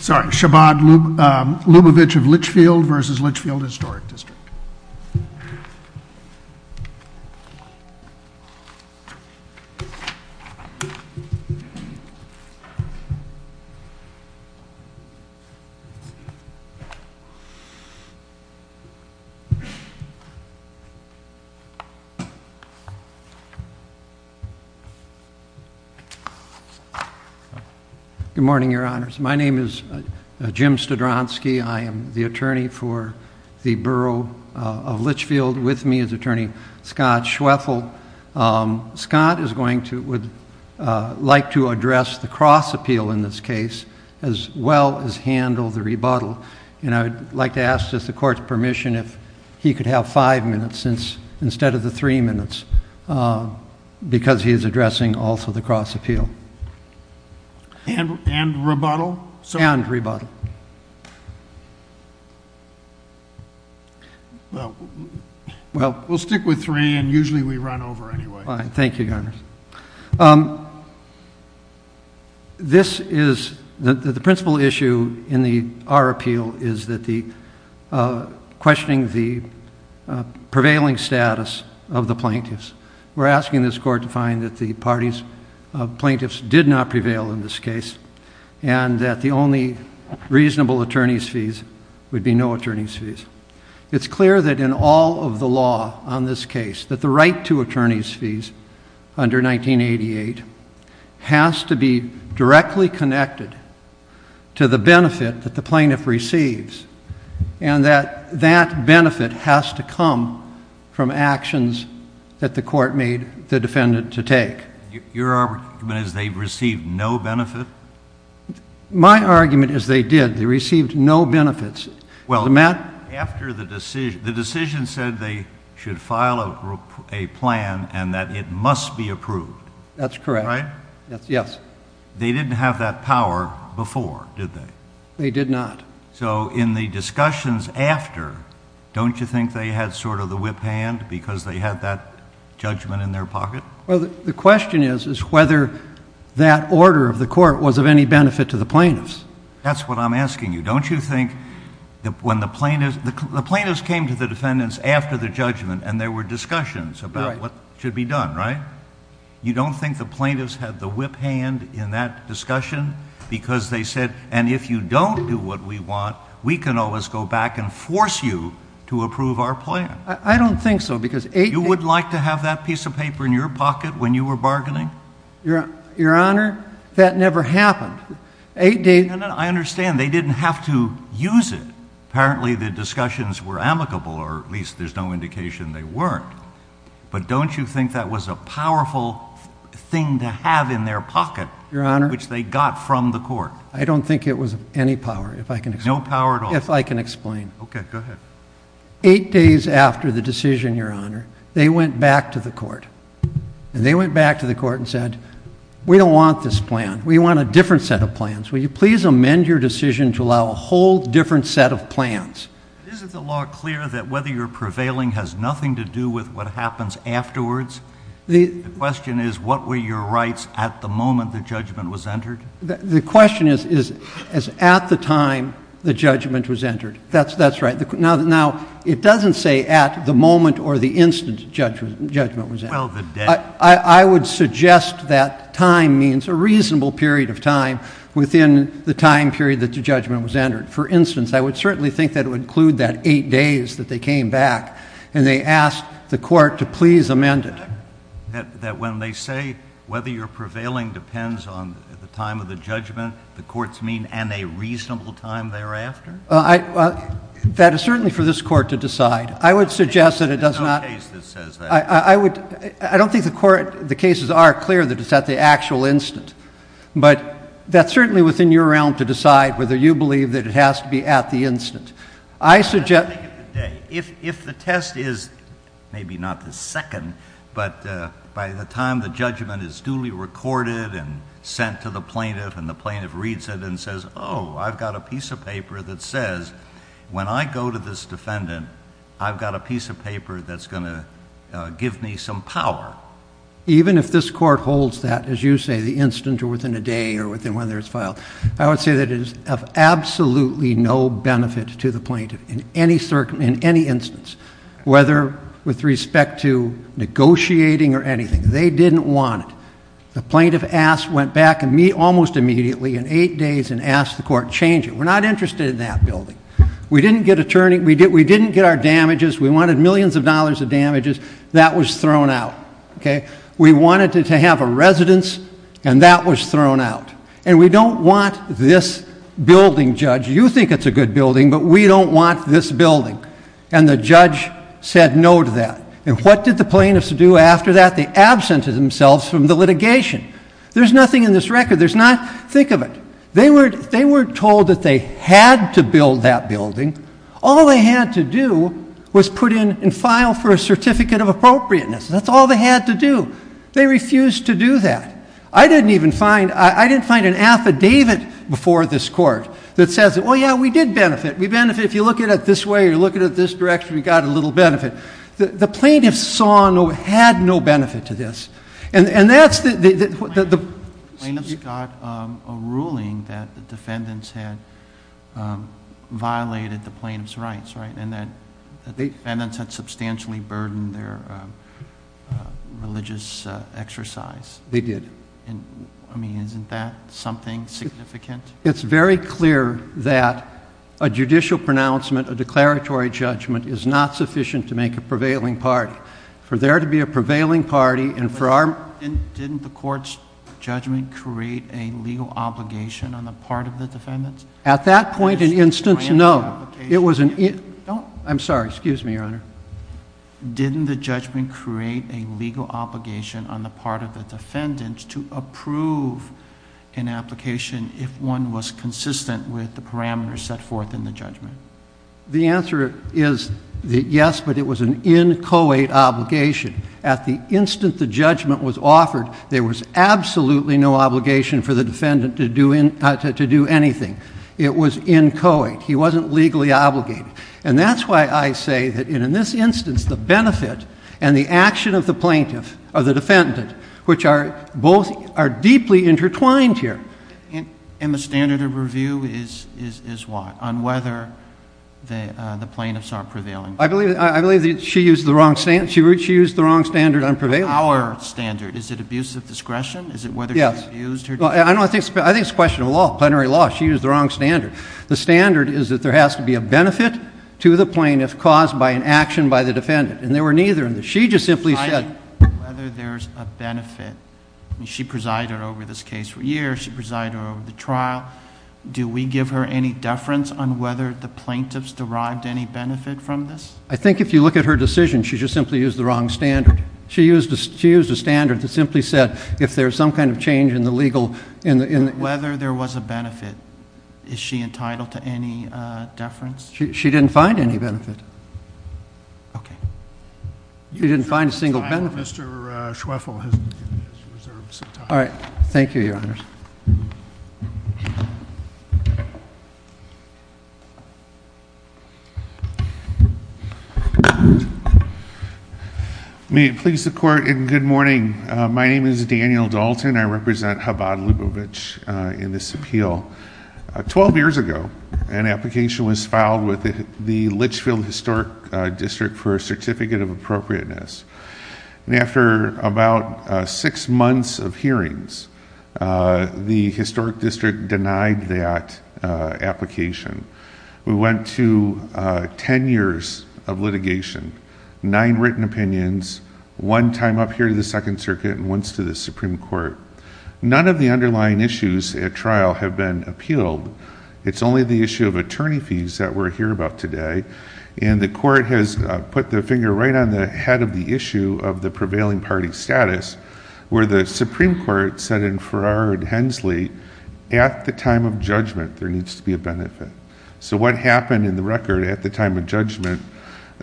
Sorry, Shabad Lubavitch of Litchfield versus Litchfield Historic District. Good morning, your honors. My name is Jim Stodronsky. I am the attorney for the borough of Litchfield with me is attorney Scott Schwefel. Scott is going to, would like to address the cross appeal in this case as well as handle the rebuttal. And I would like to ask the court's permission if he could have five minutes instead of the three minutes because he is addressing also the cross appeal. And rebuttal? And rebuttal. Well, we'll stick with three and usually we run over anyway. Thank you, your honors. This is, the principle issue in our appeal is that the questioning the prevailing status of the plaintiffs. We're asking this court to find that the parties of plaintiffs did not prevail in this case and that the only reasonable attorney's fees would be no attorney's fees. It's clear that in all of the law on this case that the right to attorney's fees under 1988 has to be directly connected to the benefit that the plaintiff receives. And that that benefit has to come from actions that the court made the defendant to take. Your argument is they received no benefit? My argument is they did. They received no benefits. Well, after the decision, the decision said they should file a plan and that it must be approved. That's correct. Right? Yes. They didn't have that power before, did they? They did not. So in the discussions after, don't you think they had sort of the whip hand because they had that judgment in their pocket? Well, the question is whether that order of the court was of any benefit to the plaintiffs. That's what I'm asking you. Don't you think that when the plaintiffs, the plaintiffs came to the defendants after the judgment and there were discussions about what should be done, right? You don't think the plaintiffs had the whip hand in that discussion? Because they said, and if you don't do what we want, we can always go back and force you to approve our plan. I don't think so. You would like to have that piece of paper in your pocket when you were bargaining? Your Honor, that never happened. I understand. They didn't have to use it. Apparently the discussions were amicable, or at least there's no indication they weren't. But don't you think that was a powerful thing to have in their pocket, which they got from the court? I don't think it was of any power, if I can explain. No power at all? If I can explain. Okay, go ahead. Eight days after the decision, Your Honor, they went back to the court. And they went back to the court and said, we don't want this plan. We want a different set of plans. Will you please amend your decision to allow a whole different set of plans? Isn't the law clear that whether you're prevailing has nothing to do with what happens afterwards? The question is, what were your rights at the moment the judgment was entered? The question is, at the time the judgment was entered. That's right. Now, it doesn't say at the moment or the instant the judgment was entered. I would suggest that time means a reasonable period of time within the time period that the judgment was entered. For instance, I would certainly think that it would include that eight days that they came back. And they asked the court to please amend it. That when they say whether you're prevailing depends on the time of the judgment, the court's mean, and a reasonable time thereafter? That is certainly for this court to decide. I would suggest that it does not. There's no case that says that. I don't think the cases are clear that it's at the actual instant. But that's certainly within your realm to decide whether you believe that it has to be at the instant. I suggest- If the test is, maybe not the second, but by the time the judgment is duly recorded and sent to the plaintiff, and the plaintiff reads it and says, oh, I've got a piece of paper that says when I go to this defendant, I've got a piece of paper that's going to give me some power. Even if this court holds that, as you say, the instant or within a day or whether it's filed, I would say that it is of absolutely no benefit to the plaintiff in any instance, whether with respect to negotiating or anything. They didn't want it. The plaintiff went back almost immediately in eight days and asked the court to change it. We're not interested in that building. We didn't get our damages. We wanted millions of dollars of damages. That was thrown out. We wanted to have a residence, and that was thrown out. And we don't want this building, Judge. You think it's a good building, but we don't want this building. And the judge said no to that. And what did the plaintiffs do after that? They absented themselves from the litigation. There's nothing in this record. Think of it. They were told that they had to build that building. All they had to do was put in and file for a certificate of appropriateness. That's all they had to do. They refused to do that. I didn't even find an affidavit before this court that says, oh, yeah, we did benefit. We benefited. If you look at it this way or you look at it this direction, we got a little benefit. The plaintiffs had no benefit to this. Plaintiffs got a ruling that the defendants had violated the plaintiffs' rights, right, and that the defendants had substantially burdened their religious exercise. They did. I mean, isn't that something significant? It's very clear that a judicial pronouncement, a declaratory judgment, is not sufficient to make a prevailing party. For there to be a prevailing party and for our... Didn't the court's judgment create a legal obligation on the part of the defendants? At that point and instance, no. It was an... Don't... I'm sorry. Excuse me, Your Honor. Didn't the judgment create a legal obligation on the part of the defendants to approve an application if one was consistent with the parameters set forth in the judgment? The answer is yes, but it was an in co-ed obligation. At the instant the judgment was offered, there was absolutely no obligation for the defendant to do anything. It was in co-ed. He wasn't legally obligated. And that's why I say that in this instance, the benefit and the action of the plaintiff or the defendant, which are both deeply intertwined here... The plaintiffs are prevailing. I believe that she used the wrong standard on prevailing. Our standard. Is it abuse of discretion? Yes. Is it whether she abused her discretion? I think it's a question of law, plenary law. She used the wrong standard. The standard is that there has to be a benefit to the plaintiff caused by an action by the defendant, and there were neither in this. She just simply said... Whether there's a benefit. She presided over this case for years. She presided over the trial. Do we give her any deference on whether the plaintiffs derived any benefit from this? I think if you look at her decision, she just simply used the wrong standard. She used a standard that simply said if there's some kind of change in the legal... Whether there was a benefit. Is she entitled to any deference? She didn't find any benefit. Okay. She didn't find a single benefit. Mr. Schwefel has reserved some time. All right. Thank you, Your Honors. May it please the Court in good morning. My name is Daniel Dalton. I represent Chabad-Lubovitch in this appeal. Twelve years ago, an application was filed with the Litchfield Historic District for a Certificate of Appropriateness. After about six months of hearings, the Historic District denied that application. We went to ten years of litigation. Nine written opinions. One time up here to the Second Circuit and once to the Supreme Court. None of the underlying issues at trial have been appealed. It's only the issue of attorney fees that we're here about today. And the Court has put the finger right on the head of the issue of the prevailing party status, where the Supreme Court said in Farrar and Hensley, at the time of judgment, there needs to be a benefit. So what happened in the record at the time of judgment?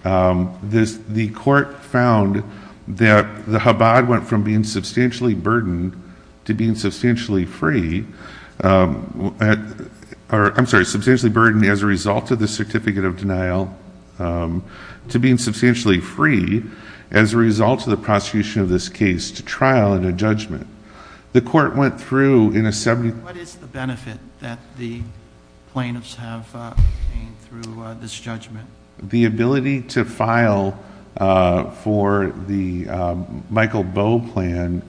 The Court found that the Chabad went from being substantially burdened to being substantially free... I'm sorry, substantially burdened as a result of the Certificate of Denial... to being substantially free as a result of the prosecution of this case to trial and a judgment. The Court went through in a... What is the benefit that the plaintiffs have gained through this judgment? The ability to file for the Michael Bowe plan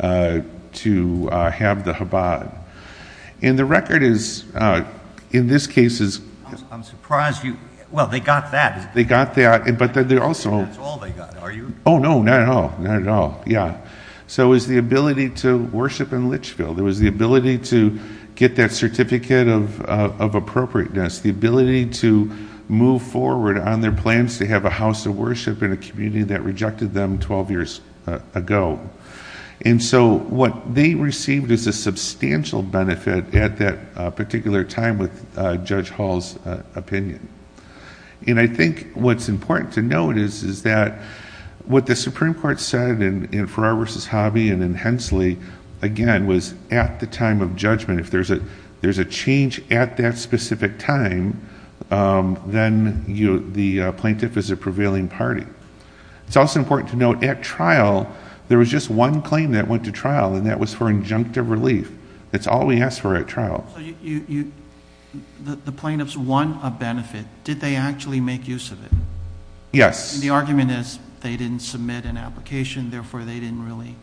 to have the Chabad. And the record is, in this case... I'm surprised you... Well, they got that. They got that, but they also... That's all they got. Are you... Oh, no, not at all. Not at all. Yeah. So it was the ability to worship in Litchfield. It was the ability to get that Certificate of Appropriateness. The ability to move forward on their plans to have a house of worship in a community that rejected them 12 years ago. And so, what they received is a substantial benefit at that particular time with Judge Hall's opinion. And I think what's important to note is that... What the Supreme Court said in Farrar v. Hobby and in Hensley, again, was at the time of judgment. If there's a change at that specific time, then the plaintiff is a prevailing party. It's also important to note, at trial, there was just one claim that went to trial, and that was for injunctive relief. That's all we asked for at trial. So, you... The plaintiffs won a benefit. Did they actually make use of it? Yes. And the argument is, they didn't submit an application. Therefore, they didn't really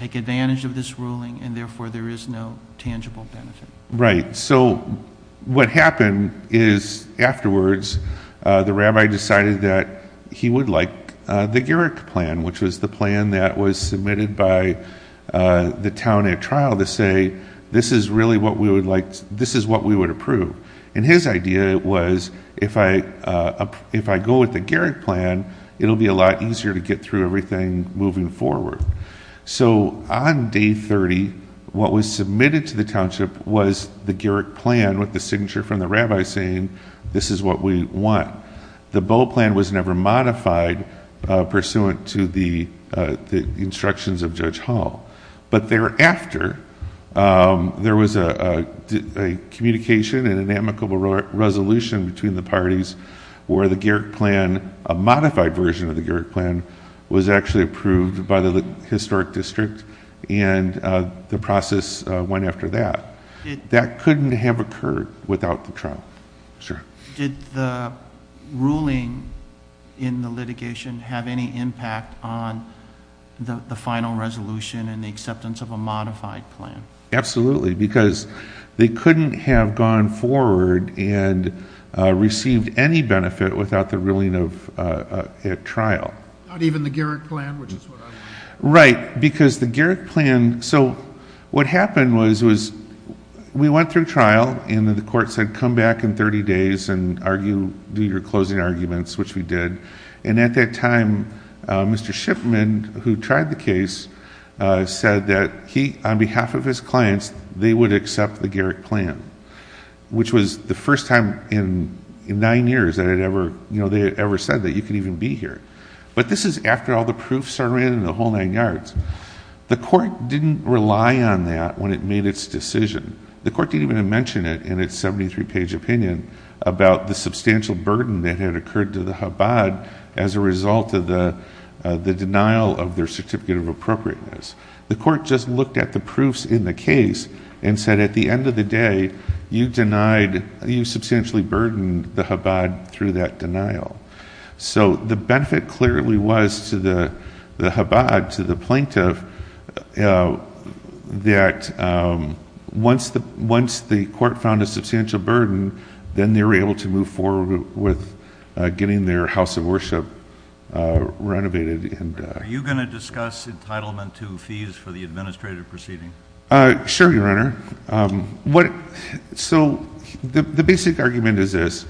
take advantage of this ruling. And therefore, there is no tangible benefit. Right. So, what happened is, afterwards, the rabbi decided that he would like the Garrick Plan, which was the plan that was submitted by the town at trial to say, this is really what we would like... this is what we would approve. And his idea was, if I go with the Garrick Plan, it'll be a lot easier to get through everything moving forward. So, on Day 30, what was submitted to the township was the Garrick Plan with the signature from the rabbi saying, this is what we want. The Bowe Plan was never modified pursuant to the instructions of Judge Hall. But thereafter, there was a communication and an amicable resolution between the parties where the Garrick Plan, a modified version of the Garrick Plan, was actually approved by the Historic District. And the process went after that. That couldn't have occurred without the trial. Sure. Did the ruling in the litigation have any impact on the final resolution and the acceptance of a modified plan? Absolutely. Because they couldn't have gone forward and received any benefit without the ruling at trial. Not even the Garrick Plan, which is what I'm... Right. Because the Garrick Plan... So, what happened was, we went through trial and the court said, come back in 30 days and do your closing arguments, which we did. And at that time, Mr. Shipman, who tried the case, said that he, on behalf of his clients, they would accept the Garrick Plan, which was the first time in nine years that they had ever said that you could even be here. But this is after all the proofs are in and the whole nine yards. The court didn't rely on that when it made its decision. The court didn't even mention it in its 73-page opinion about the substantial burden that had occurred to the Chabad as a result of the denial of their certificate of appropriateness. The court just looked at the proofs in the case and said, at the end of the day, you substantially burdened the Chabad through that denial. So, the benefit clearly was to the Chabad, to the plaintiff, that once the court found a substantial burden, then they were able to move forward with getting their house of worship renovated. Are you going to discuss entitlement to fees for the administrative proceeding? Sure, Your Honor. So, the basic argument is this.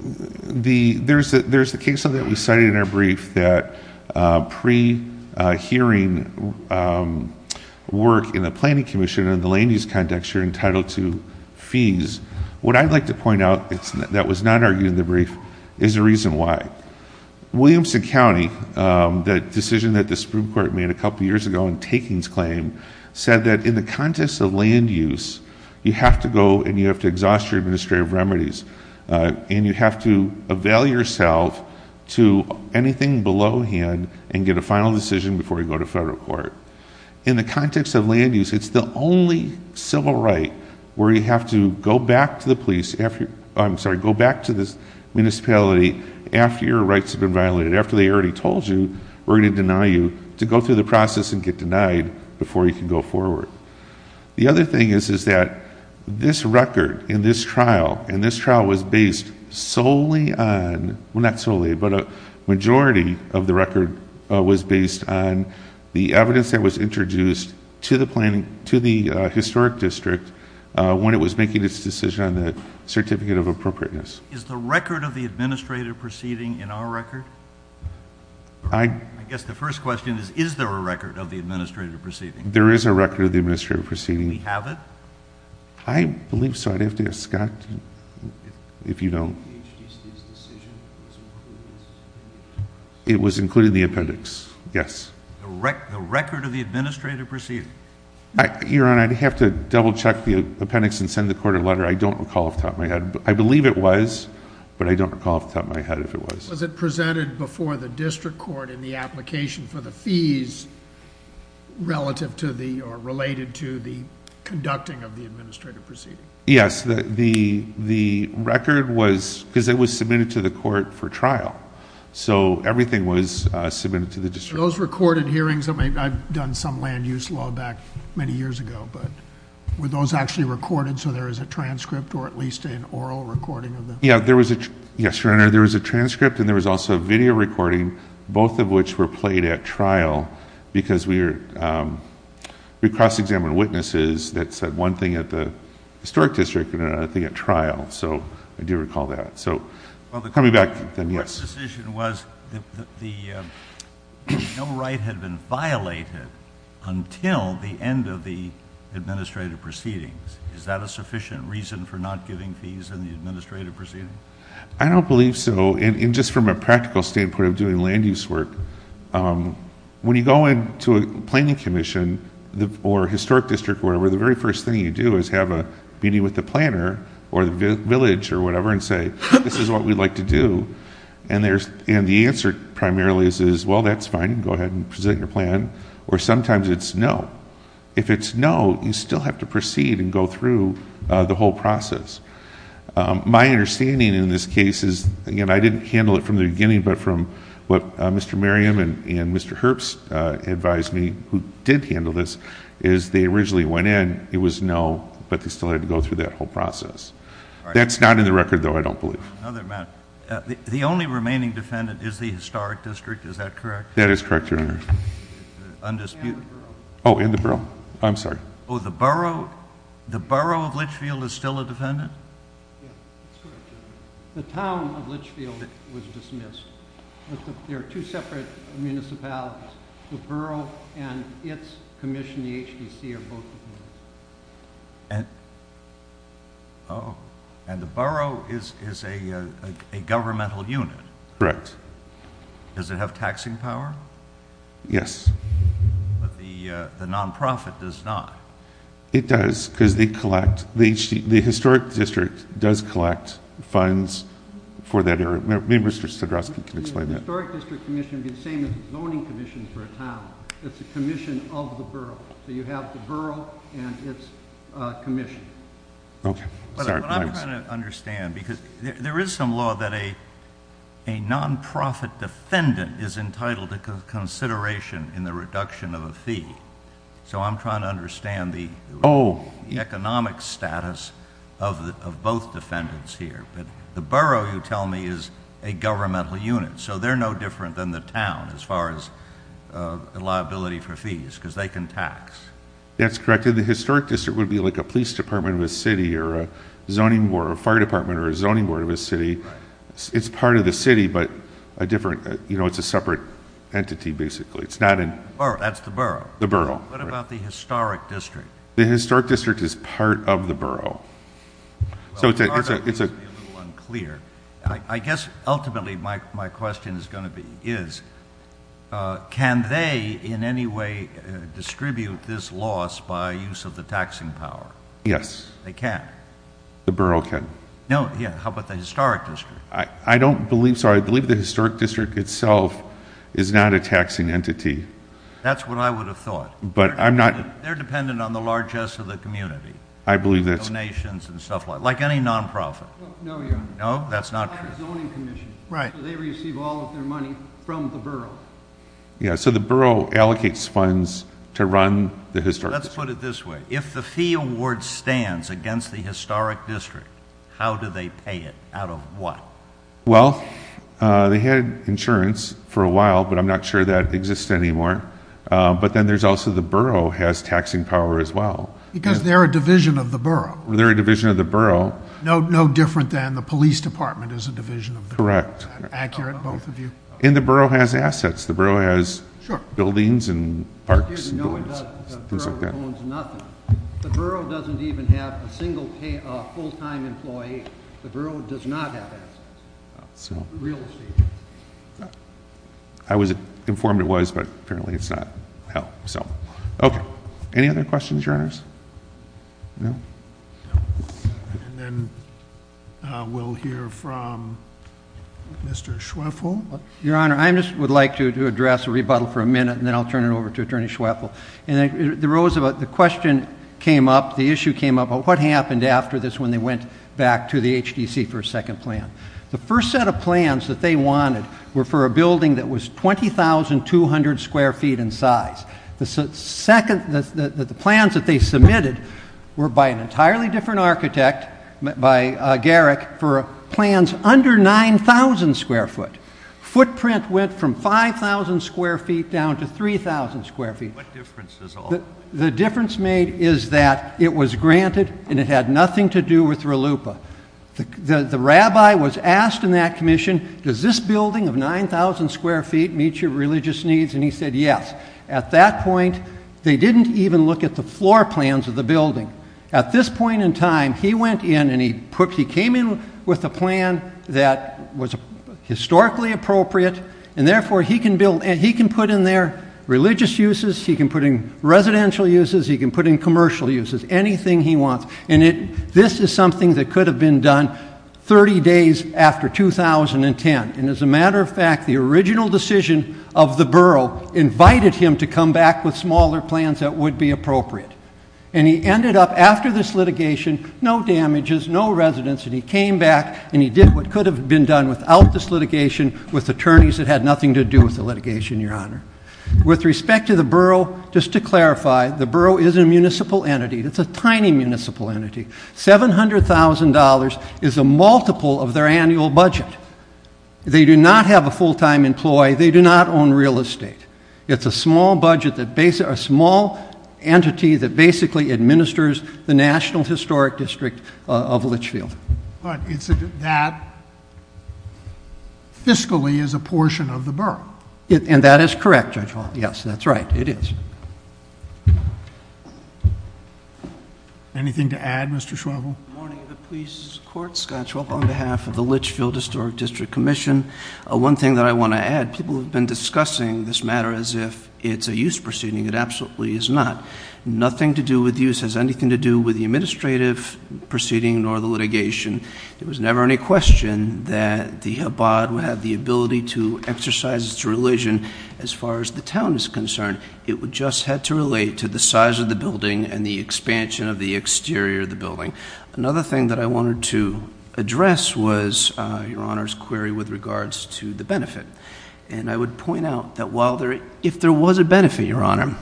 There's the case that we cited in our brief that pre-hearing work in the planning commission in the land use context, you're entitled to fees. What I'd like to point out that was not argued in the brief is the reason why. Williamson County, the decision that the Supreme Court made a couple years ago in Takings Claim, said that in the context of land use, you have to go and you have to exhaust your administrative remedies. And you have to avail yourself to anything below hand and get a final decision before you go to federal court. In the context of land use, it's the only civil right where you have to go back to the police, I'm sorry, go back to the municipality after your rights have been violated. After they already told you we're going to deny you to go through the process and get denied before you can go forward. The other thing is that this record in this trial, and this trial was based solely on, well not solely, but a majority of the record was based on the evidence that was introduced to the historic district when it was making its decision on the certificate of appropriateness. Is the record of the administrative proceeding in our record? I guess the first question is, is there a record of the administrative proceeding? There is a record of the administrative proceeding. Do we have it? I believe so, I'd have to ask Scott if you don't. The HDC's decision was included in this? It was included in the appendix, yes. The record of the administrative proceeding? Your Honor, I'd have to double check the appendix and send the court a letter. I don't recall off the top of my head. I believe it was, but I don't recall off the top of my head if it was. Was it presented before the district court in the application for the fees relative to the, or related to the conducting of the administrative proceeding? Yes, the record was, because it was submitted to the court for trial, so everything was submitted to the district court. Were those recorded hearings? I've done some land use law back many years ago, but were those actually recorded so there is a transcript or at least an oral recording of them? Yes, Your Honor, there was a transcript and there was also a video recording, both of which were played at trial, because we cross-examined witnesses that said one thing at the historic district and another thing at trial, so I do recall that. Coming back then, yes. Well, the court's decision was that no right had been violated until the end of the administrative proceedings. Is that a sufficient reason for not giving fees in the administrative proceeding? I don't believe so. And just from a practical standpoint of doing land use work, when you go into a planning commission or historic district or whatever, the very first thing you do is have a meeting with the planner or the village or whatever and say, this is what we'd like to do, and the answer primarily is, well, that's fine, go ahead and present your plan, or sometimes it's no. If it's no, you still have to proceed and go through the whole process. My understanding in this case is, again, I didn't handle it from the beginning, but from what Mr. Merriam and Mr. Herbst advised me, who did handle this, is they originally went in, it was no, but they still had to go through that whole process. That's not in the record, though, I don't believe. The only remaining defendant is the historic district, is that correct? That is correct, Your Honor. And the borough. Oh, and the borough. I'm sorry. Oh, the borough of Litchfield is still a defendant? Yes, that's correct, Your Honor. The town of Litchfield was dismissed. There are two separate municipalities, the borough and its commission, the HBC, are both defendants. And the borough is a governmental unit. Correct. Does it have taxing power? Yes. But the nonprofit does not. It does, because they collect, the historic district does collect funds for that area. Maybe Mr. Stodrosky can explain that. The historic district commission would be the same as the zoning commission for a town. It's a commission of the borough. So you have the borough and its commission. Okay. But I'm trying to understand, because there is some law that a nonprofit defendant is entitled to consideration in the reduction of a fee. So I'm trying to understand the economic status of both defendants here. But the borough, you tell me, is a governmental unit. So they're no different than the town as far as liability for fees, because they can tax. That's correct. And the historic district would be like a police department of a city or a zoning board, a fire department or a zoning board of a city. Right. It's part of the city, but a different, you know, it's a separate entity basically. It's not in... That's the borough. The borough. What about the historic district? The historic district is part of the borough. I guess ultimately my question is going to be is, can they in any way distribute this loss by use of the taxing power? Yes. They can't? The borough can. No. Yeah. How about the historic district? I don't believe so. I believe the historic district itself is not a taxing entity. That's what I would have thought. But I'm not... They're dependent on the largesse of the community. I believe that's... Like any non-profit. No, Your Honor. No, that's not true. Like a zoning commission. Right. They receive all of their money from the borough. Yeah, so the borough allocates funds to run the historic district. Let's put it this way. If the fee award stands against the historic district, how do they pay it? Out of what? Well, they had insurance for a while, but I'm not sure that exists anymore. Because they're a division of the borough. They're a division of the borough. No different than the police department is a division of the borough. Correct. Accurate, both of you. And the borough has assets. The borough has buildings and parks and things like that. Excuse me. No, it doesn't. The borough owns nothing. The borough doesn't even have a full-time employee. The borough does not have assets. Real estate. I was informed it was, but apparently it's not. Okay. Any other questions, Your Honors? No? And then we'll hear from Mr. Schweffel. Your Honor, I just would like to address a rebuttal for a minute, and then I'll turn it over to Attorney Schweffel. The question came up, the issue came up, about what happened after this when they went back to the HDC for a second plan. The first set of plans that they wanted were for a building that was 20,200 square feet in size. The plans that they submitted were by an entirely different architect, by Garrick, for plans under 9,000 square foot. Footprint went from 5,000 square feet down to 3,000 square feet. What difference does it make? The difference made is that it was granted and it had nothing to do with Ralupa. The rabbi was asked in that commission, does this building of 9,000 square feet meet your religious needs? And he said yes. At that point, they didn't even look at the floor plans of the building. At this point in time, he went in and he came in with a plan that was historically appropriate, and therefore he can put in there religious uses, he can put in residential uses, he can put in commercial uses, anything he wants. And this is something that could have been done 30 days after 2010. And as a matter of fact, the original decision of the borough invited him to come back with smaller plans that would be appropriate. And he ended up after this litigation, no damages, no residence, and he came back and he did what could have been done without this litigation with attorneys that had nothing to do with the litigation, Your Honor. With respect to the borough, just to clarify, the borough is a municipal entity. It's a tiny municipal entity. $700,000 is a multiple of their annual budget. They do not have a full-time employee. They do not own real estate. It's a small entity that basically administers the National Historic District of Litchfield. But that fiscally is a portion of the borough. And that is correct, Judge Hall. Yes, that's right. It is. Anything to add, Mr. Schwebel? Good morning to the police courts. Scott Schwebel on behalf of the Litchfield Historic District Commission. One thing that I want to add, people have been discussing this matter as if it's a use proceeding. It absolutely is not. Nothing to do with use has anything to do with the administrative proceeding nor the litigation. It was never any question that the Habbad would have the ability to exercise its religion as far as the town is concerned. It just had to relate to the size of the building and the expansion of the exterior of the building. Another thing that I wanted to address was Your Honor's query with regards to the benefit. And I would point out that if there was a benefit, Your Honor,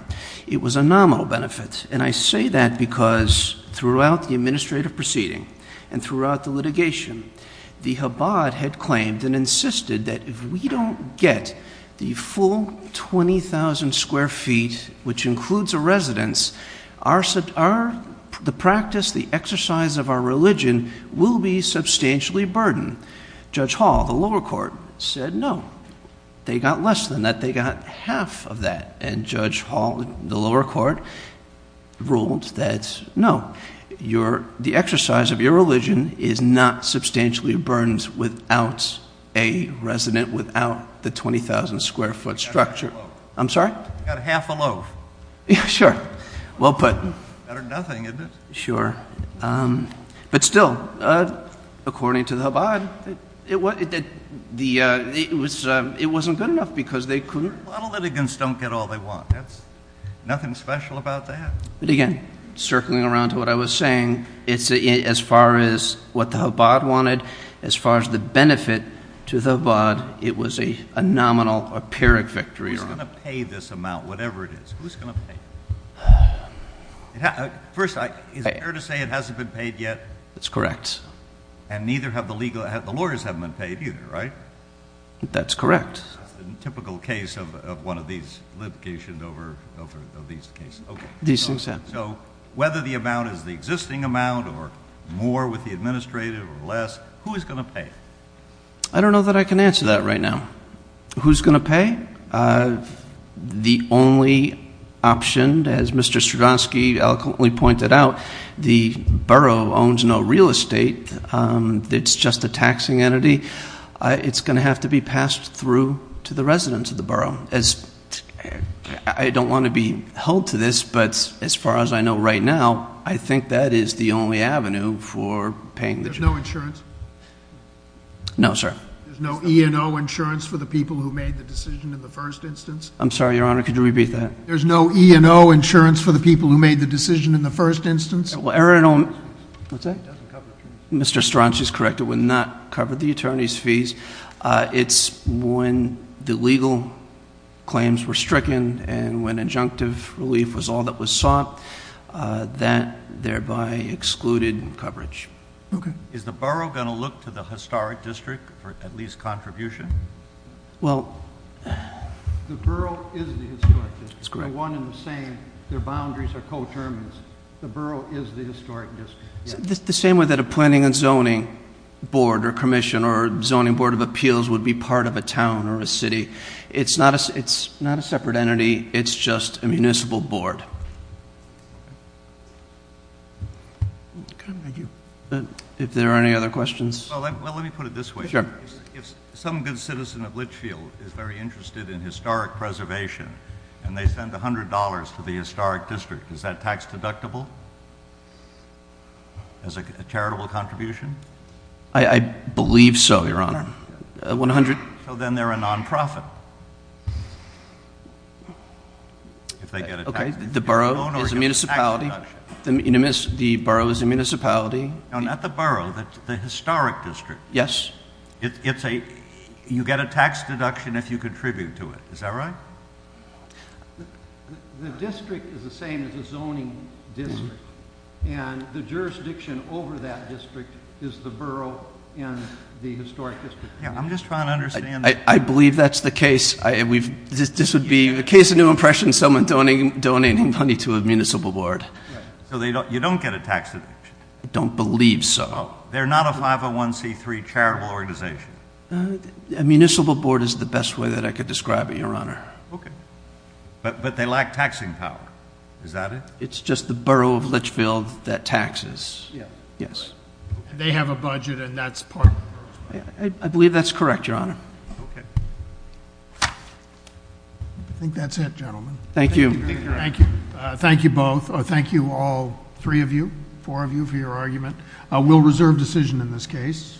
it was a nominal benefit. And I say that because throughout the administrative proceeding and throughout the litigation, the Habbad had claimed and insisted that if we don't get the full 20,000 square feet, which includes a residence, the practice, the exercise of our religion will be substantially burdened. Judge Hall, the lower court, said no. They got less than that. They got half of that. And Judge Hall, the lower court, ruled that no. The exercise of your religion is not substantially burdened without a resident, without the 20,000 square foot structure. I'm sorry? Got half a loaf. Sure. Well put. Better than nothing, isn't it? Sure. But still, according to the Habbad, it wasn't good enough because they couldn't. A lot of litigants don't get all they want. There's nothing special about that. But again, circling around to what I was saying, as far as what the Habbad wanted, as far as the benefit to the Habbad, it was a nominal or pyrrhic victory. Who's going to pay this amount, whatever it is? Who's going to pay? First, is it fair to say it hasn't been paid yet? That's correct. And neither have the legal – the lawyers haven't been paid either, right? That's correct. That's the typical case of one of these litigation over these cases. Okay. So whether the amount is the existing amount or more with the administrative or less, who is going to pay? I don't know that I can answer that right now. Who's going to pay? The only option, as Mr. Stravosky eloquently pointed out, the borough owns no real estate. It's just a taxing entity. It's going to have to be passed through to the residents of the borough. I don't want to be held to this, but as far as I know right now, I think that is the only avenue for paying. There's no insurance? No, sir. There's no E&O insurance for the people who made the decision in the first instance? I'm sorry, Your Honor. Could you repeat that? There's no E&O insurance for the people who made the decision in the first instance? What's that? Mr. Stravosky is correct. It would not cover the attorney's fees. It's when the legal claims were stricken and when injunctive relief was all that was sought, that thereby excluded coverage. Okay. Is the borough going to look to the historic district for at least contribution? Well, the borough is the historic district. They're one and the same. Their boundaries are co-determined. The borough is the historic district. It's the same way that a planning and zoning board or commission or zoning board of appeals would be part of a town or a city. It's not a separate entity. It's just a municipal board. Thank you. If there are any other questions? Well, let me put it this way. Sure. If some good citizen of Litchfield is very interested in historic preservation and they send $100 to the historic district, is that tax-deductible as a charitable contribution? I believe so, Your Honor. So then they're a nonprofit. Okay. The borough is a municipality. The borough is a municipality. No, not the borough. The historic district. Yes. You get a tax deduction if you contribute to it. Is that right? The district is the same as the zoning district. And the jurisdiction over that district is the borough and the historic district. I'm just trying to understand. I believe that's the case. This would be a case of new impression, someone donating money to a municipal board. So you don't get a tax deduction? I don't believe so. They're not a 501c3 charitable organization. A municipal board is the best way that I could describe it, Your Honor. Okay. But they lack taxing power. Is that it? It's just the borough of Litchfield that taxes. Yes. They have a budget and that's part of it. I believe that's correct, Your Honor. Okay. I think that's it, gentlemen. Thank you. Thank you. Thank you both. Thank you, all three of you, four of you, for your argument. We'll reserve decision in this case.